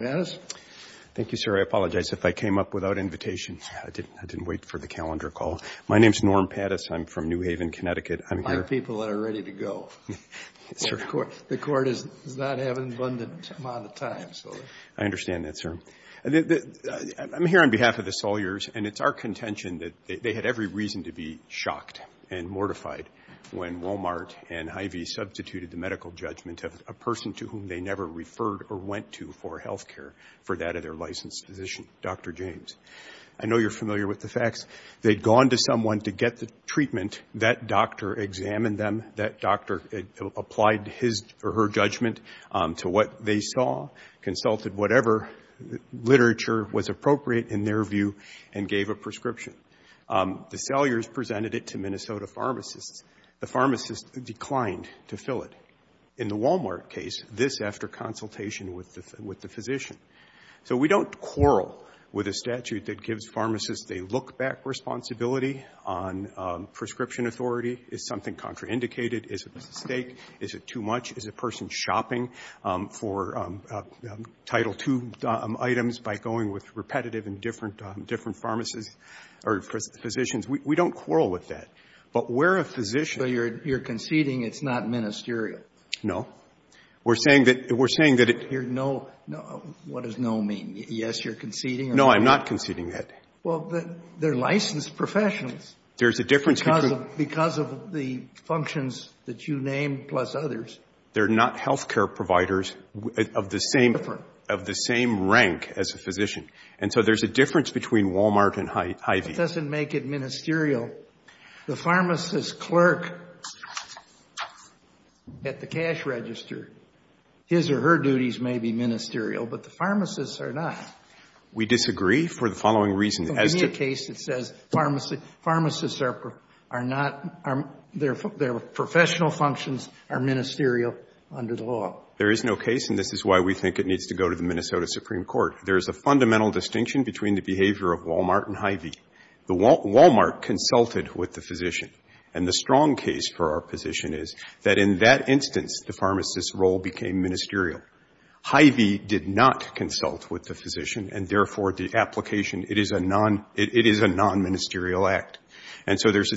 I'm here on behalf of the Saliers, and it's our contention that they had every reason to be shocked and mortified when Walmart and Hy-Vee substituted the medical judgment of a person to whom they never referred or went to for health care for that of their licensed physician, Dr. James. I know you're familiar with the facts. They'd gone to someone to get the treatment. That doctor examined them. That doctor applied his or her judgment to what they saw, consulted whatever literature was appropriate in their view, and gave a prescription. The Saliers presented it to Minnesota pharmacists. The pharmacists declined to fill it, in the Walmart case, this after consultation with the physician. So we don't quarrel with a statute that gives pharmacists a look-back responsibility on prescription authority. Is something contraindicated? Is it a mistake? Is it too much? Is a person shopping for Title II items by going with repetitive and different pharmacists or physicians? We don't quarrel with that. But where a physician goes to a pharmacy and says, well, that's not ministerial. No. We're saying that it— You're no—what does no mean? Yes, you're conceding or— No, I'm not conceding that. Well, they're licensed professionals. There's a difference between— Because of the functions that you named, plus others. They're not health care providers of the same— Different. Of the same rank as a physician. And so there's a difference between Walmart and Hy-Vee. It doesn't make it ministerial. The pharmacist clerk at the cash register, his or her duties may be ministerial, but the pharmacists are not. We disagree for the following reason. In any case, it says pharmacists are not—their professional functions are ministerial under the law. There is no case, and this is why we think it needs to go to the Minnesota Supreme Court. There is a fundamental distinction between the behavior of Walmart and Hy-Vee. The—Walmart consulted with the physician. And the strong case for our position is that in that instance, the pharmacist's role became ministerial. Hy-Vee did not consult with the physician, and therefore, the application, it is a non—it is a non-ministerial act. And so there's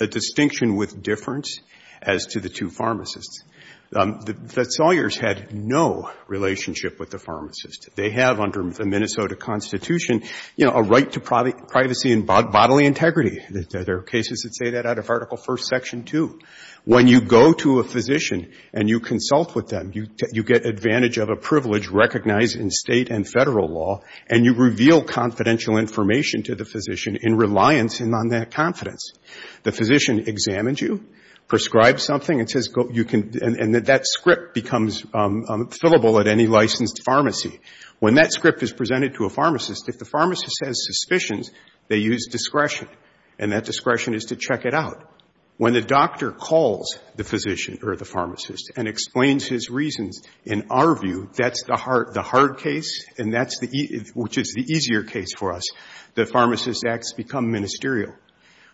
a distinction with difference as to the two pharmacists. The Sawyers had no relationship with the pharmacist. They have under the Minnesota Constitution, you know, a right to privacy and bodily integrity. There are cases that say that out of Article I, Section 2. When you go to a physician and you consult with them, you get advantage of a privilege recognized in State and Federal law, and you reveal confidential information to the physician in reliance on that confidence. The physician examines you, prescribes something, and says, you can—and that script becomes fillable at any licensed pharmacy. When that script is presented to a pharmacist, if the pharmacist has suspicions, they use discretion. And that discretion is to check it out. When the doctor calls the physician or the pharmacist and explains his reasons, in our view, that's the hard case, and that's the—which is the easier case for us. The pharmacist acts become ministerial.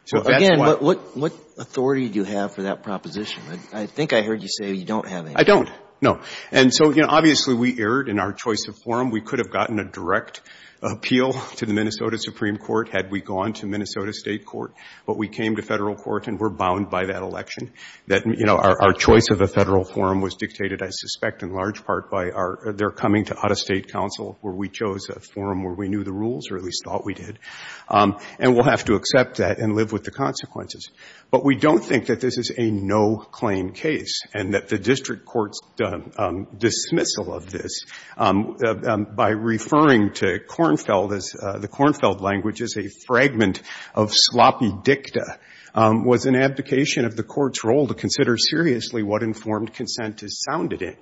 So that's why— Again, but what authority do you have for that proposition? I think I heard you say you don't have any. I don't. No. And so, you know, obviously, we erred in our choice of forum. We could have gotten a direct appeal to the Minnesota Supreme Court had we gone to Minnesota State court, but we came to Federal court and were bound by that election. That, you know, our choice of a Federal forum was dictated, I suspect, in large part by our—their coming to out-of-State counsel, where we chose a forum where we knew the rules, or at least thought we did. And we'll have to accept that and live with the consequences. But we don't think that this is a no-claim case and that the district court's dismissal of this by referring to Kornfeld as—the Kornfeld language as a fragment of sloppy dicta was an abdication of the court's role to consider seriously what informed consent is sounded in.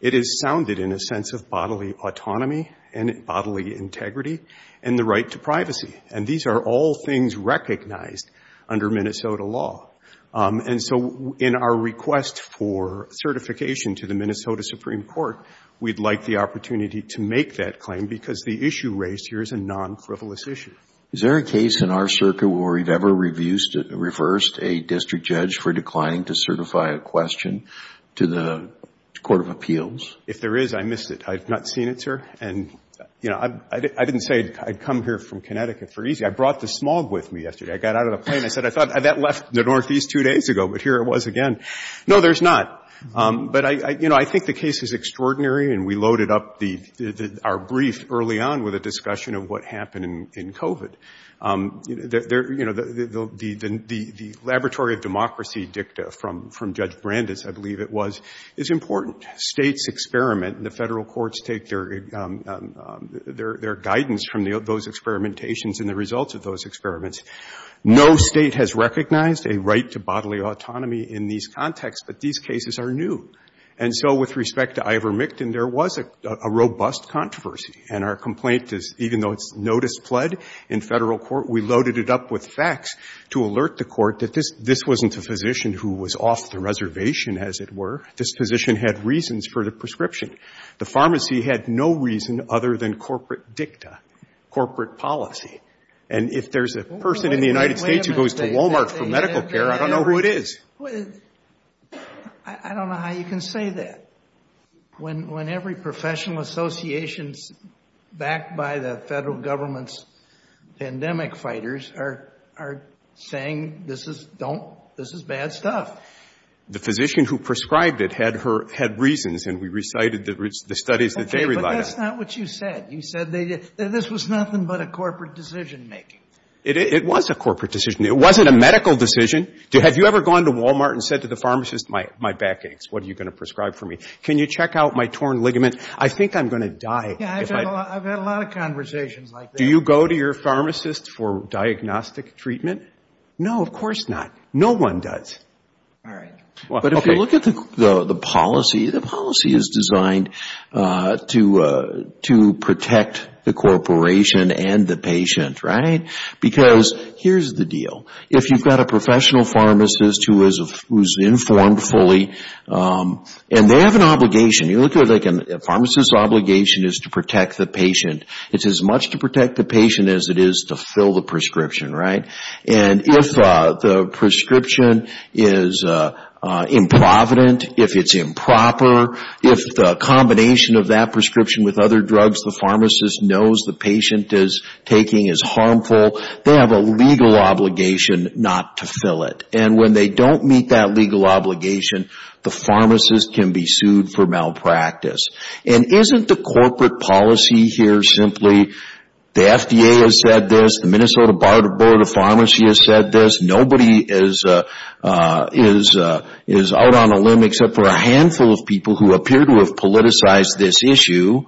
It is sounded in a sense of bodily autonomy and bodily integrity and the right to privacy. And these are all things recognized under Minnesota law. And so, in our request for certification to the Minnesota Supreme Court, we'd like the opportunity to make that claim because the issue raised here is a non-frivolous issue. Is there a case in our circuit where we've ever reversed a district judge for declining to certify a question to the Court of Appeals? If there is, I missed it. I've not seen it, sir. And, you know, I didn't say I'd come here from Connecticut for easy. I brought the smog with me yesterday. I got out of the plane. I said, I thought that left the Northeast two days ago, but here it was again. No, there's not. But, you know, I think the case is extraordinary. And we loaded up our brief early on with a discussion of what happened in COVID. You know, the Laboratory of Democracy dicta from Judge Brandis, I believe it was, is important. States experiment. The Federal courts take their guidance from those experimentations and the results of those experiments. No state has recognized a right to bodily autonomy in these contexts, but these cases are new. And so, with respect to Ivermictin, there was a robust controversy. And our complaint is, even though it's notice pled in Federal court, we loaded it up with facts to alert the court that this wasn't a physician who was off the reservation, as it were. This physician had reasons for the prescription. The pharmacy had no reason other than corporate dicta, corporate policy. And if there's a person in the United States who goes to Walmart for medical care, I don't know who it is. I don't know how you can say that when every professional association's backed by the Federal government's pandemic fighters are saying, this is, don't, this is bad stuff. The physician who prescribed it had reasons, and we recited the studies that they relied on. But that's not what you said. You said that this was nothing but a corporate decision making. It was a corporate decision. It wasn't a medical decision. Have you ever gone to Walmart and said to the pharmacist, my back aches, what are you going to prescribe for me? Can you check out my torn ligament? I think I'm going to die. Yeah, I've had a lot of conversations like that. Do you go to your pharmacist for diagnostic treatment? No, of course not. No one does. All right. But if you look at the policy, the policy is designed to protect the corporation and the patient, right? Because here's the deal. If you've got a professional pharmacist who is informed fully, and they have an obligation, you look at it like a pharmacist's obligation is to protect the patient. It's as much to protect the patient as it is to fill the prescription, right? If the prescription is improvident, if it's improper, if the combination of that prescription with other drugs the pharmacist knows the patient is taking is harmful, they have a legal obligation not to fill it. When they don't meet that legal obligation, the pharmacist can be sued for malpractice. Isn't the corporate policy here simply, the FDA has said this, the Minnesota Board of Pharmacy has said this, nobody is out on a limb except for a handful of people who appear to have politicized this issue,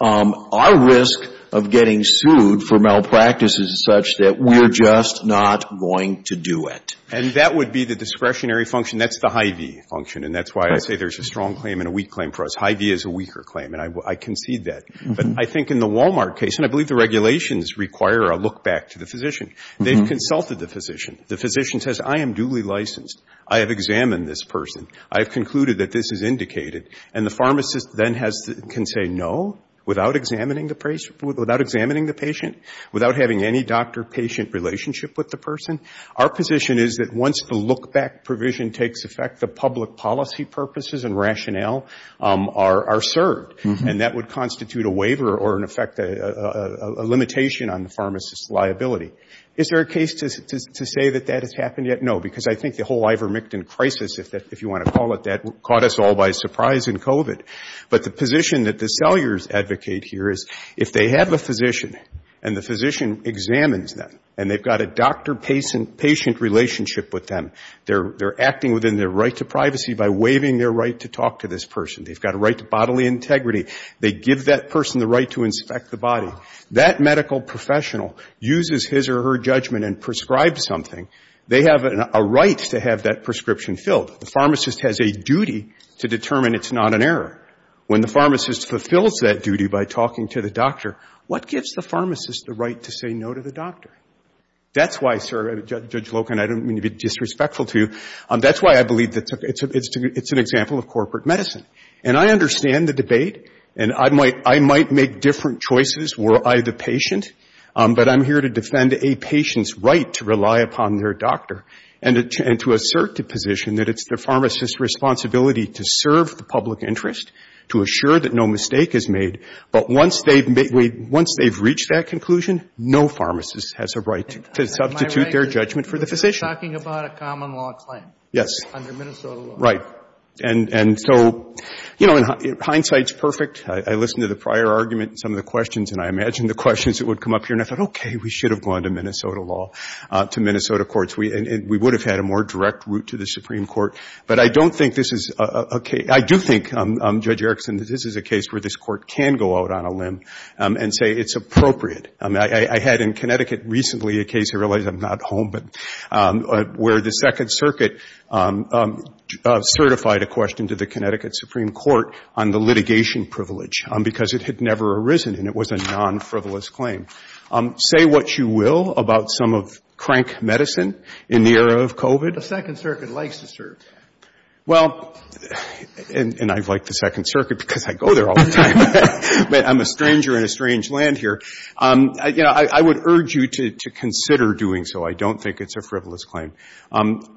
our risk of getting sued for malpractice is such that we're just not going to do it. And that would be the discretionary function. That's the Hy-Vee function, and that's why I say there's a strong claim and a weak claim for us. Hy-Vee is a weaker claim, and I concede that. But I think in the Walmart case, and I believe the regulations require a look back to the I have consulted the physician. The physician says, I am duly licensed, I have examined this person, I have concluded that this is indicated. And the pharmacist then can say no, without examining the patient, without having any doctor-patient relationship with the person. Our position is that once the look back provision takes effect, the public policy purposes and rationale are served, and that would constitute a waiver or, in effect, a limitation on the pharmacist's liability. Is there a case to say that that has happened yet? No, because I think the whole Ivermectin crisis, if you want to call it that, caught us all by surprise in COVID. But the position that the sellers advocate here is if they have a physician and the physician examines them, and they've got a doctor-patient relationship with them, they're acting within their right to privacy by waiving their right to talk to this person. They've got a right to bodily integrity. They give that person the right to inspect the body. That medical professional uses his or her judgment and prescribes something. They have a right to have that prescription filled. The pharmacist has a duty to determine it's not an error. When the pharmacist fulfills that duty by talking to the doctor, what gives the pharmacist the right to say no to the doctor? That's why, Judge Locan, I don't mean to be disrespectful to you, that's why I believe that it's an example of corporate medicine. And I understand the debate, and I might make different choices, were I the patient, but I'm here to defend a patient's right to rely upon their doctor and to assert the position that it's the pharmacist's responsibility to serve the public interest, to assure that no mistake is made. But once they've reached that conclusion, no pharmacist has a right to substitute their judgment for the physician. But you're talking about a common-law claim under Minnesota law. Yes. Right. And so, you know, hindsight's perfect. I listened to the prior argument and some of the questions, and I imagined the questions that would come up here, and I thought, okay, we should have gone to Minnesota law, to Minnesota courts. We would have had a more direct route to the Supreme Court. But I don't think this is a case — I do think, Judge Erickson, that this is a case where this Court can go out on a limb and say it's appropriate. I mean, I had in Connecticut recently a case — I realize I'm not home, but — where the Second Circuit certified a question to the Connecticut Supreme Court on the litigation privilege because it had never arisen, and it was a non-frivolous claim. Say what you will about some of crank medicine in the era of COVID. The Second Circuit likes to serve. Well, and I've liked the Second Circuit because I go there all the time, but I'm a stranger in a strange land here. You know, I would urge you to consider doing so. I don't think it's a frivolous claim.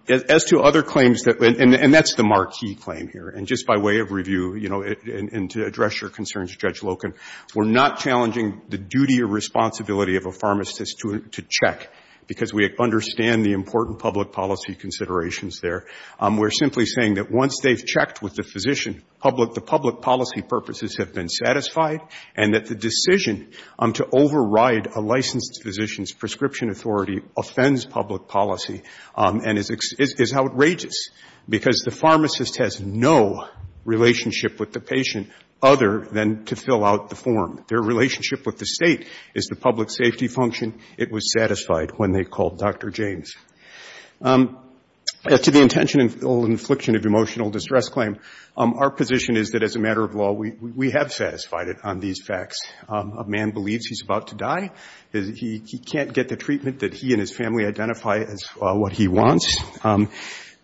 As to other claims that — and that's the marquee claim here, and just by way of review, you know, and to address your concerns, Judge Loken, we're not challenging the duty or responsibility of a pharmacist to check because we understand the important public policy considerations there. We're simply saying that once they've checked with the physician, the public policy purposes have been satisfied, and that the decision to override a licensed physician's prescription authority offends public policy and is outrageous because the pharmacist has no relationship with the patient other than to fill out the form. Their relationship with the State is the public safety function. It was satisfied when they called Dr. James. To the intentional infliction of emotional distress claim, our position is that as a physician, we have satisfied it on these facts. A man believes he's about to die. He can't get the treatment that he and his family identify as what he wants, and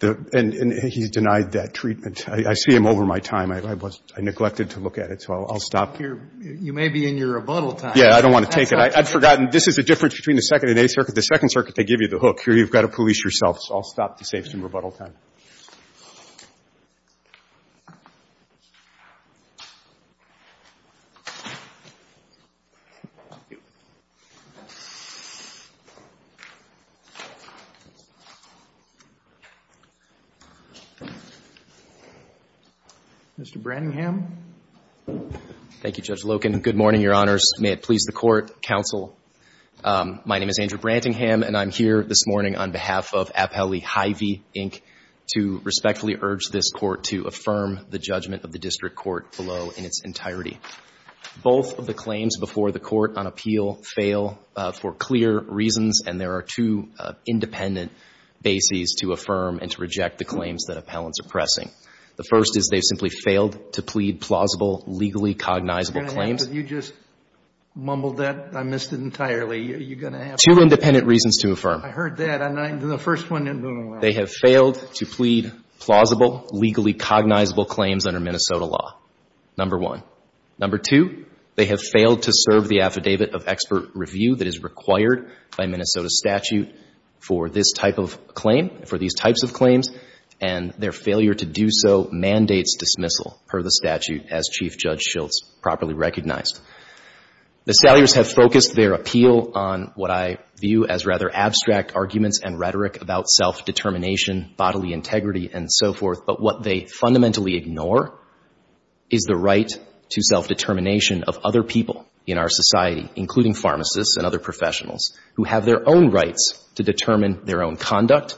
he's denied that treatment. I see him over my time. I neglected to look at it, so I'll stop here. You may be in your rebuttal time. Yeah, I don't want to take it. I've forgotten. This is the difference between the Second and Eighth Circuit. The Second Circuit, they give you the hook. Here, you've got to police yourself, so I'll stop to save some rebuttal time. Mr. Branningham? Thank you, Judge Loken. Good morning, Your Honors. May it please the Court, Counsel. My name is Andrew Branningham, and I'm here this morning on behalf of Appellee Hy-Vee, Inc., to respectfully urge this Court to affirm the judgment of the district court below in its entirety. Both of the claims before the Court on appeal fail for clear reasons, and there are two independent bases to affirm and to reject the claims that appellants are pressing. The first is they simply failed to plead plausible, legally cognizable claims. You just mumbled that. I missed it entirely. You're going to have to repeat it. Two independent reasons to affirm. I heard that. The first one didn't go well. They have failed to plead plausible, legally cognizable claims under Minnesota law, number one. Number two, they have failed to serve the affidavit of expert review that is required by Minnesota statute for this type of claim, for these types of claims, and their failure to do so mandates dismissal per the statute as Chief Judge Shilts properly recognized. The Salyers have focused their appeal on what I view as rather abstract arguments and rhetoric about self-determination, bodily integrity, and so forth, but what they fundamentally ignore is the right to self-determination of other people in our society, including pharmacists and other professionals, who have their own rights to determine their own conduct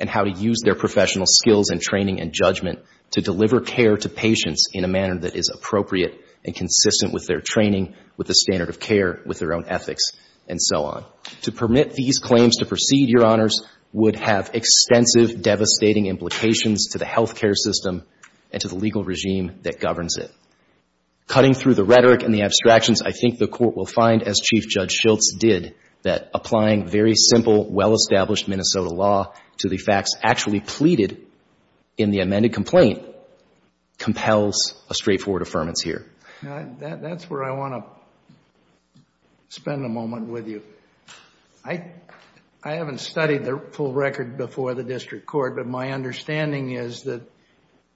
and how to use their professional skills and training and judgment to deliver care to patients in a manner that is appropriate and consistent with their training, with the standard of care, with their own ethics, and so on. To permit these claims to proceed, Your Honors, would have extensive, devastating implications to the health care system and to the legal regime that governs it. Cutting through the rhetoric and the abstractions, I think the Court will find, as Chief Judge Shilts did, that applying very simple, well-established Minnesota law to the facts actually pleaded in the amended complaint compels a straightforward affirmance here. That's where I want to spend a moment with you. I haven't studied the full record before the District Court, but my understanding is that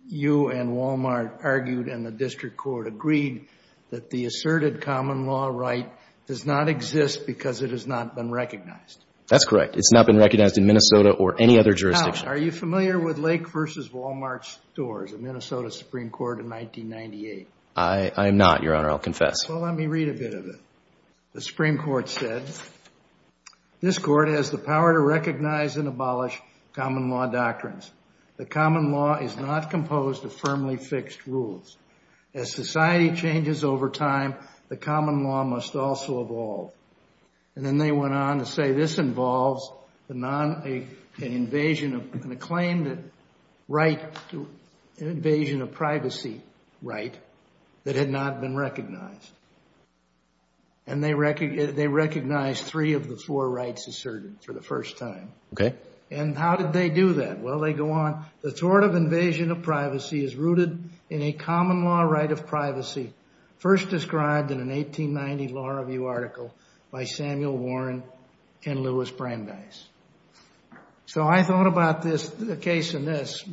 you and Walmart argued and the District Court agreed that the asserted common law right does not exist because it has not been recognized. That's correct. It's not been recognized in Minnesota or any other jurisdiction. Now, are you familiar with Lake v. Walmart Stores, a Minnesota Supreme Court in 1998? I am not, Your Honor. I'll confess. Well, let me read a bit of it. The Supreme Court said, this Court has the power to recognize and abolish common law doctrines. The common law is not composed of firmly fixed rules. As society changes over time, the common law must also evolve. And then they went on to say, this involves an invasion of privacy right that had not been recognized. And they recognized three of the four rights asserted for the first time. And how did they do that? Well, they go on. The tort of invasion of privacy is rooted in a common law right of privacy first described in an 1890 Law Review article by Samuel Warren and Lewis Brandeis. So I thought about this case in this.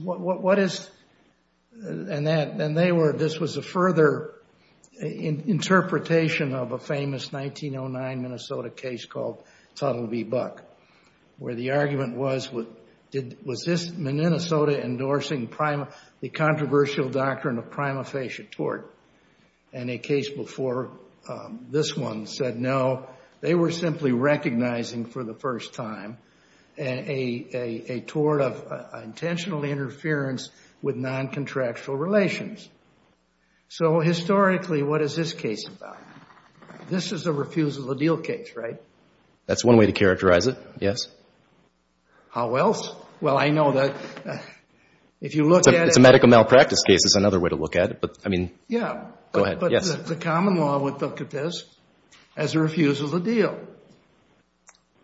This was a further interpretation of a famous 1909 Minnesota case called Tuttle v. Buck, where the argument was, was this Minnesota endorsing the And a case before this one said no. They were simply recognizing for the first time a tort of intentional interference with non-contractual relations. So historically, what is this case about? This is a refusal to deal case, right? That's one way to characterize it, yes. How else? Well, I know that if you look at it. It's a medical malpractice case is another way to look at it. I mean, yeah, go ahead. Yes. But the common law would look at this as a refusal to deal.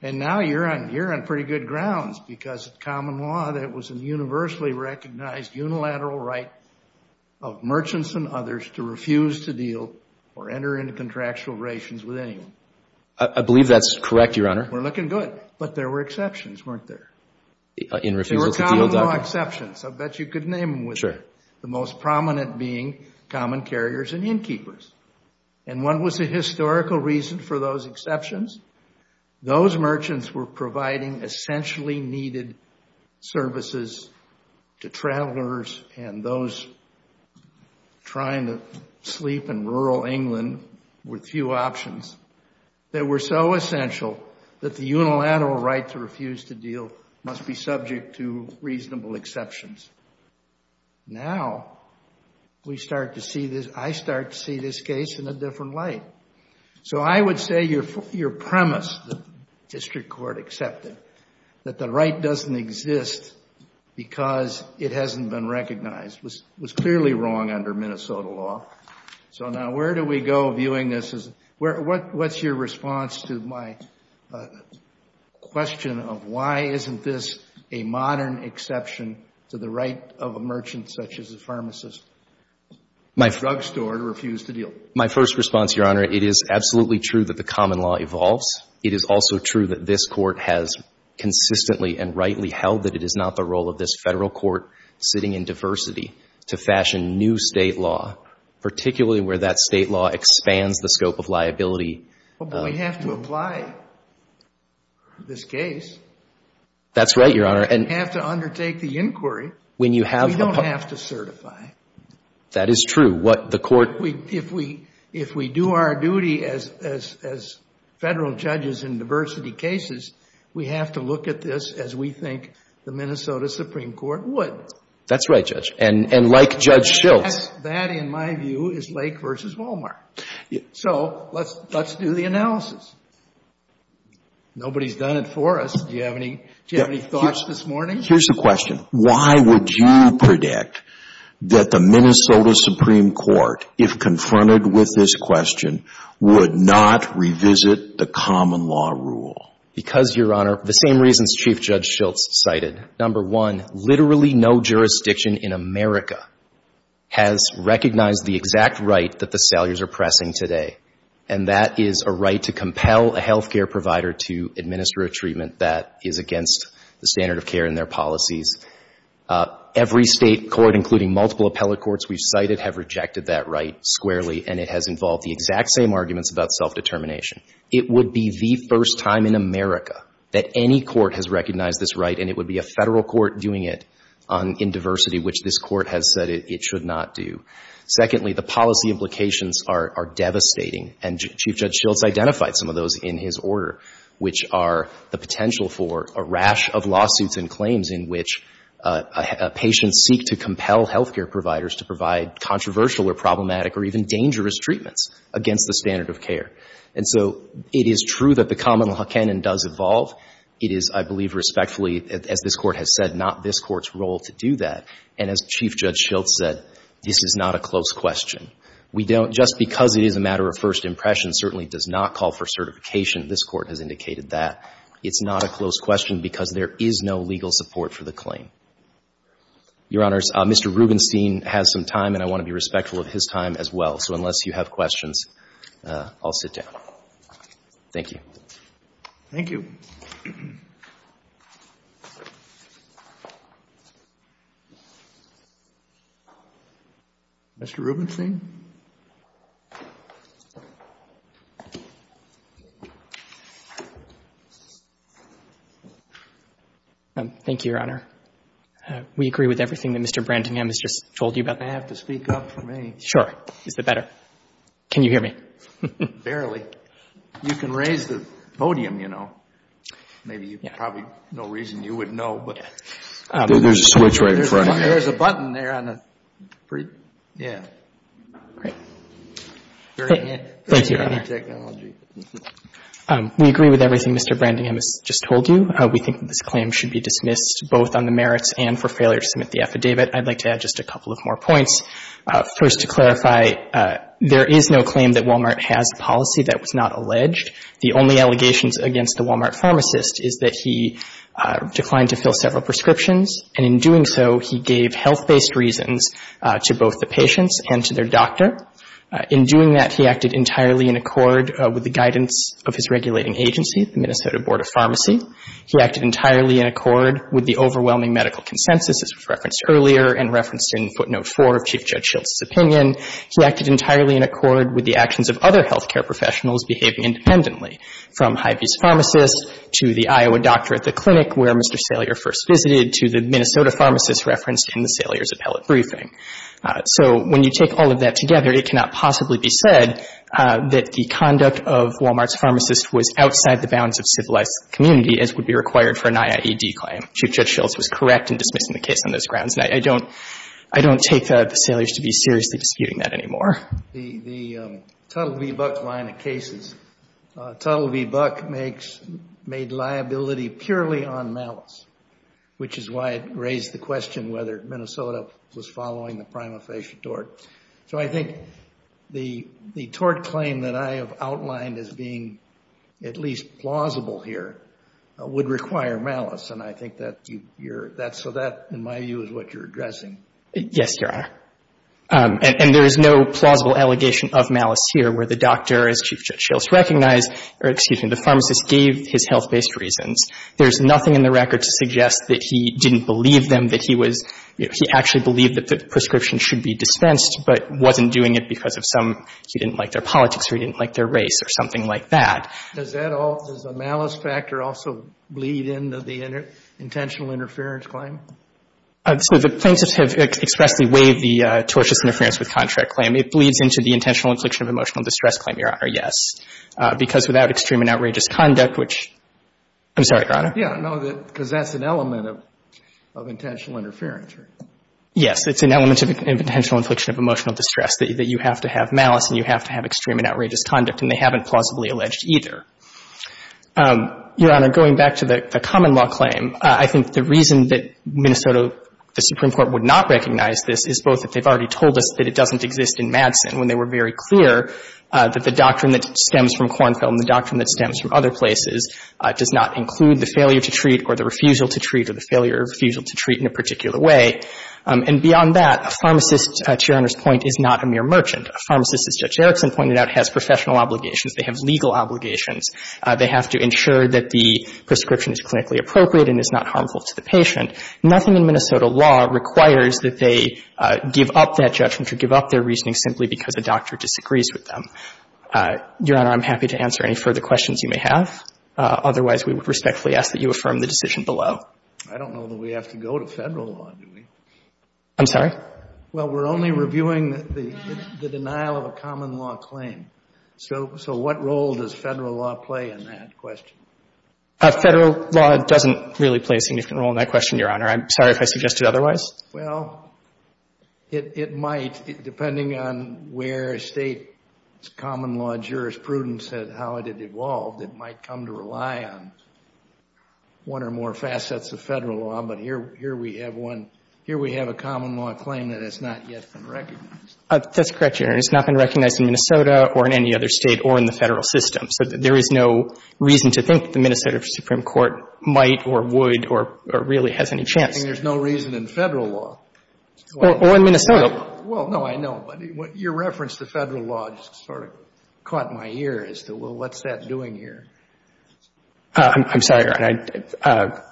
And now you're on pretty good grounds because it's common law that it was a universally recognized unilateral right of merchants and others to refuse to deal or enter into contractual relations with anyone. I believe that's correct, Your Honor. We're looking good. But there were exceptions, weren't there? In refusal to deal, Doctor? There were common law exceptions. I bet you could name them. Sure. The most prominent being common carriers and innkeepers. And what was the historical reason for those exceptions? Those merchants were providing essentially needed services to travelers and those trying to sleep in rural England with few options. They were so essential that the unilateral right to refuse to deal must be subject to reasonable exceptions. Now, we start to see this, I start to see this case in a different light. So I would say your premise, the district court accepted, that the right doesn't exist because it hasn't been recognized was clearly wrong under Minnesota law. So now where do we go viewing this? What's your response to my question of why isn't this a modern exception to the right of a merchant such as a pharmacist, a drug store, to refuse to deal? My first response, Your Honor, it is absolutely true that the common law evolves. It is also true that this Court has consistently and rightly held that it is not the role of this Federal court sitting in diversity to fashion new state law, particularly where that state law expands the scope of liability. But we have to apply this case. That's right, Your Honor. And we have to undertake the inquiry. We don't have to certify. That is true. What the Court... If we do our duty as Federal judges in diversity cases, we have to look at this as we think the Minnesota Supreme Court would. That's right, Judge. And like Judge Schiltz. That, in my view, is Lake versus Walmart. So let's do the analysis. Nobody's done it for us. Do you have any thoughts this morning? Here's the question. Why would you predict that the Minnesota Supreme Court, if confronted with this question, would not revisit the common law rule? Because, Your Honor, the same reasons Chief Judge Schiltz cited. Number one, literally no jurisdiction in America has recognized the exact right that the sailors are pressing today, and that is a right to compel a health care provider to administer a treatment that is against the standard of care in their policies. Every State court, including multiple appellate courts we've cited, have rejected that right squarely, and it has involved the exact same arguments about self-determination. It would be the first time in America that any court has recognized this right, and it would be a Federal court doing it in diversity, which this Court has said it should not do. Secondly, the policy implications are devastating, and Chief Judge Schiltz identified some of those in his order, which are the potential for a rash of lawsuits and claims in which patients seek to compel health care providers to provide controversial or problematic or even dangerous treatments against the standard of care. And so it is true that the common law canon does evolve. It is, I believe, respectfully, as this Court has said, not this Court's role to do that, and as Chief Judge Schiltz said, this is not a close question. We don't, just because it is a matter of first impression certainly does not call for certification. This Court has indicated that. It's not a close question because there is no legal support for the claim. Your Honors, Mr. Rubenstein has some time, and I want to be respectful of his time as well. So unless you have questions, I'll sit down. Thank you. Thank you. Mr. Rubenstein? Thank you, Your Honor. We agree with everything that Mr. Brantingham has just told you about. I have to speak up for me. Sure. Is that better? Can you hear me? Barely. You can raise the podium, you know. Maybe you probably, no reason you wouldn't know, but. There's a switch right in front of you. There's a button there on the, yeah. Great. Thank you, Your Honor. We agree with everything Mr. Brantingham has just told you. We think that this claim should be dismissed both on the merits and for failure to submit the affidavit. I'd like to add just a couple of more points. First to clarify, there is no claim that Walmart has a policy that was not alleged. The only allegations against the Walmart pharmacist is that he declined to fill several prescriptions, and in doing so, he gave health-based reasons to both the In doing that, he acted entirely in accord with the guidance of his regulating agency, the Minnesota Board of Pharmacy. He acted entirely in accord with the overwhelming medical consensus, as was referenced earlier and referenced in footnote four of Chief Judge Schiltz's opinion. He acted entirely in accord with the actions of other health care professionals behaving independently, from Hy-Vee's pharmacist to the Iowa doctor at the clinic where Mr. Salier first visited, to the Minnesota pharmacist referenced in the Salier's appellate briefing. So when you take all of that together, it cannot possibly be said that the conduct of Walmart's pharmacist was outside the bounds of civilized community, as would be required for an IAED claim. Chief Judge Schiltz was correct in dismissing the case on those grounds. And I don't, I don't take the Salier's to be seriously disputing that anymore. The, the Tuttle v. Buck line of cases, Tuttle v. Buck makes, made liability purely on malice, which is why it raised the question whether Minnesota was following the prima facie tort. So I think the, the tort claim that I have outlined as being at least plausible here would require malice. And I think that you, you're, that's, so that, in my view, is what you're addressing. Yes, Your Honor. And there is no plausible allegation of malice here where the doctor, as Chief Judge Schiltz recognized, or excuse me, the pharmacist gave his health-based reasons. There's nothing in the record to suggest that he didn't believe them, that he was, he actually believed that the prescription should be dispensed, but wasn't doing it because of some, he didn't like their politics or he didn't like their race or something like that. Does that all, does the malice factor also bleed into the intentional interference claim? So the plaintiffs have expressly waived the tortious interference with contract claim. It bleeds into the intentional infliction of emotional distress claim, Your Honor, Yeah, no, that, because that's an element of, of intentional interference. Yes. It's an element of intentional infliction of emotional distress, that you have to have malice and you have to have extreme and outrageous conduct. And they haven't plausibly alleged either. Your Honor, going back to the common law claim, I think the reason that Minnesota, the Supreme Court would not recognize this is both that they've already told us that it doesn't exist in Madison when they were very clear that the doctrine that stems from Kornfeld and the doctrine that stems from other places does not include the failure to treat or the refusal to treat or the failure or refusal to treat in a particular way. And beyond that, a pharmacist, to Your Honor's point, is not a mere merchant. A pharmacist, as Judge Erickson pointed out, has professional obligations. They have legal obligations. They have to ensure that the prescription is clinically appropriate and is not harmful to the patient. Nothing in Minnesota law requires that they give up that judgment or give up their reasoning simply because a doctor disagrees with them. Your Honor, I'm happy to answer any further questions you may have. Otherwise, we would respectfully ask that you affirm the decision below. I don't know that we have to go to Federal law, do we? I'm sorry? Well, we're only reviewing the denial of a common law claim. So what role does Federal law play in that question? Federal law doesn't really play a significant role in that question, Your Honor. I'm sorry if I suggested otherwise. Well, it might, depending on where State common law jurisprudence says how it had come to rely on, one or more facets of Federal law, but here we have one. Here we have a common law claim that has not yet been recognized. That's correct, Your Honor. It's not been recognized in Minnesota or in any other State or in the Federal system. So there is no reason to think the Minnesota Supreme Court might or would or really has any chance. I think there's no reason in Federal law. Or in Minnesota. Well, no, I know. But your reference to Federal law just sort of caught my ear as to, well, what's that doing here? I'm sorry, Your Honor.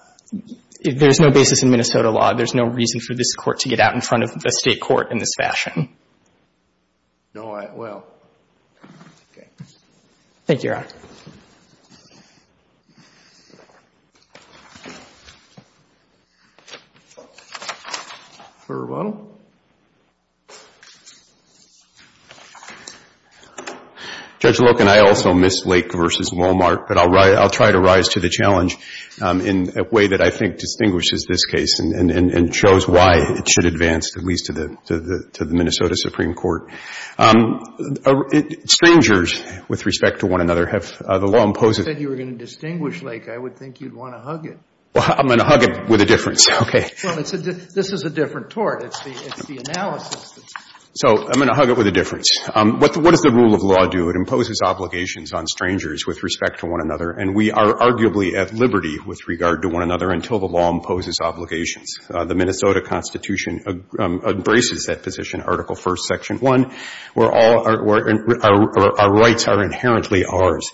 There's no basis in Minnesota law. There's no reason for this Court to get out in front of a State court in this fashion. No, I — well. Okay. Thank you, Your Honor. Judge Loken, I also missed Lake v. Walmart, but I'll try to rise to the challenge in a way that I think distinguishes this case and shows why it should advance at least to the Minnesota Supreme Court. Strangers with respect to one another have the law impose a — You said you were going to distinguish, Lake. I would think you'd want to hug it. Well, I'm going to hug it with a difference. Okay. Well, this is a different tort. It's the analysis. So I'm going to hug it with a difference. What does the rule of law do? It imposes obligations on strangers with respect to one another. And we are arguably at liberty with regard to one another until the law imposes obligations. The Minnesota Constitution embraces that position, Article I, Section 1, where all our rights are inherently ours.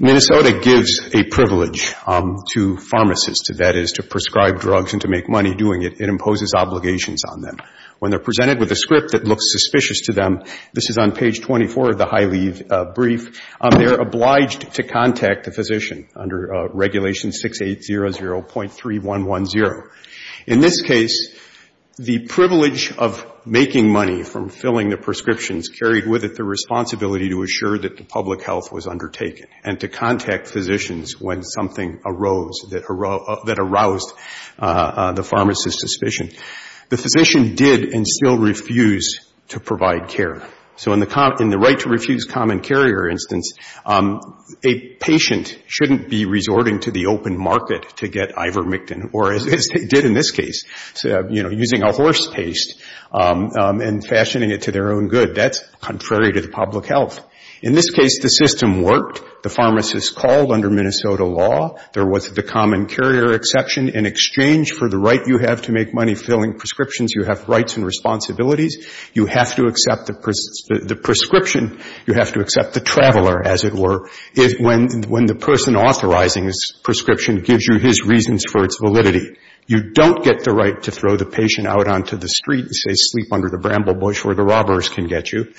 Minnesota gives a privilege to pharmacists, that is, to prescribe drugs and to make money doing it. It imposes obligations on them. When they're presented with a script that looks suspicious to them, this is on page 24 of the high-leave brief, they're obliged to contact the physician under Regulation 6800.3110. In this case, the privilege of making money from filling the prescriptions carried with it the responsibility to assure that the public health was undertaken and to contact physicians when something arose that aroused the pharmacist's suspicion. The physician did and still refuse to provide care. So in the right to refuse common carrier instance, a patient shouldn't be resorting to the open market to get Ivermectin, or as they did in this case, using a horse paste and fashioning it to their own good. That's contrary to the public health. In this case, the system worked. The pharmacist called under Minnesota law. There was the common carrier exception. In exchange for the right you have to make money filling prescriptions, you have rights and responsibilities. You have to accept the prescription. You have to accept the traveler, as it were. When the person authorizing this prescription gives you his reasons for its validity, you don't get the right to throw the patient out onto the street and say sleep under the bramble bush where the robbers can get you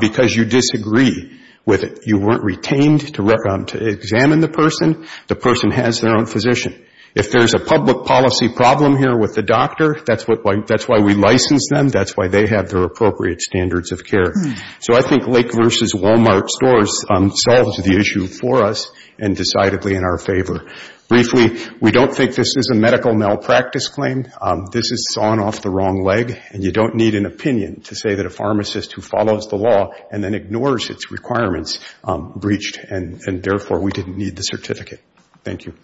because you disagree with it. You weren't retained to examine the person. The person has their own physician. If there's a public policy problem here with the doctor, that's why we license them. That's why they have their appropriate standards of care. So I think Lake versus Walmart stores solved the issue for us and decidedly in our favor. Briefly, we don't think this is a medical malpractice claim. This is sawn off the wrong leg, and you don't need an opinion to say that a pharmacist who follows the law and then ignores its requirements breached, and therefore, we didn't need the certificate. Thank you.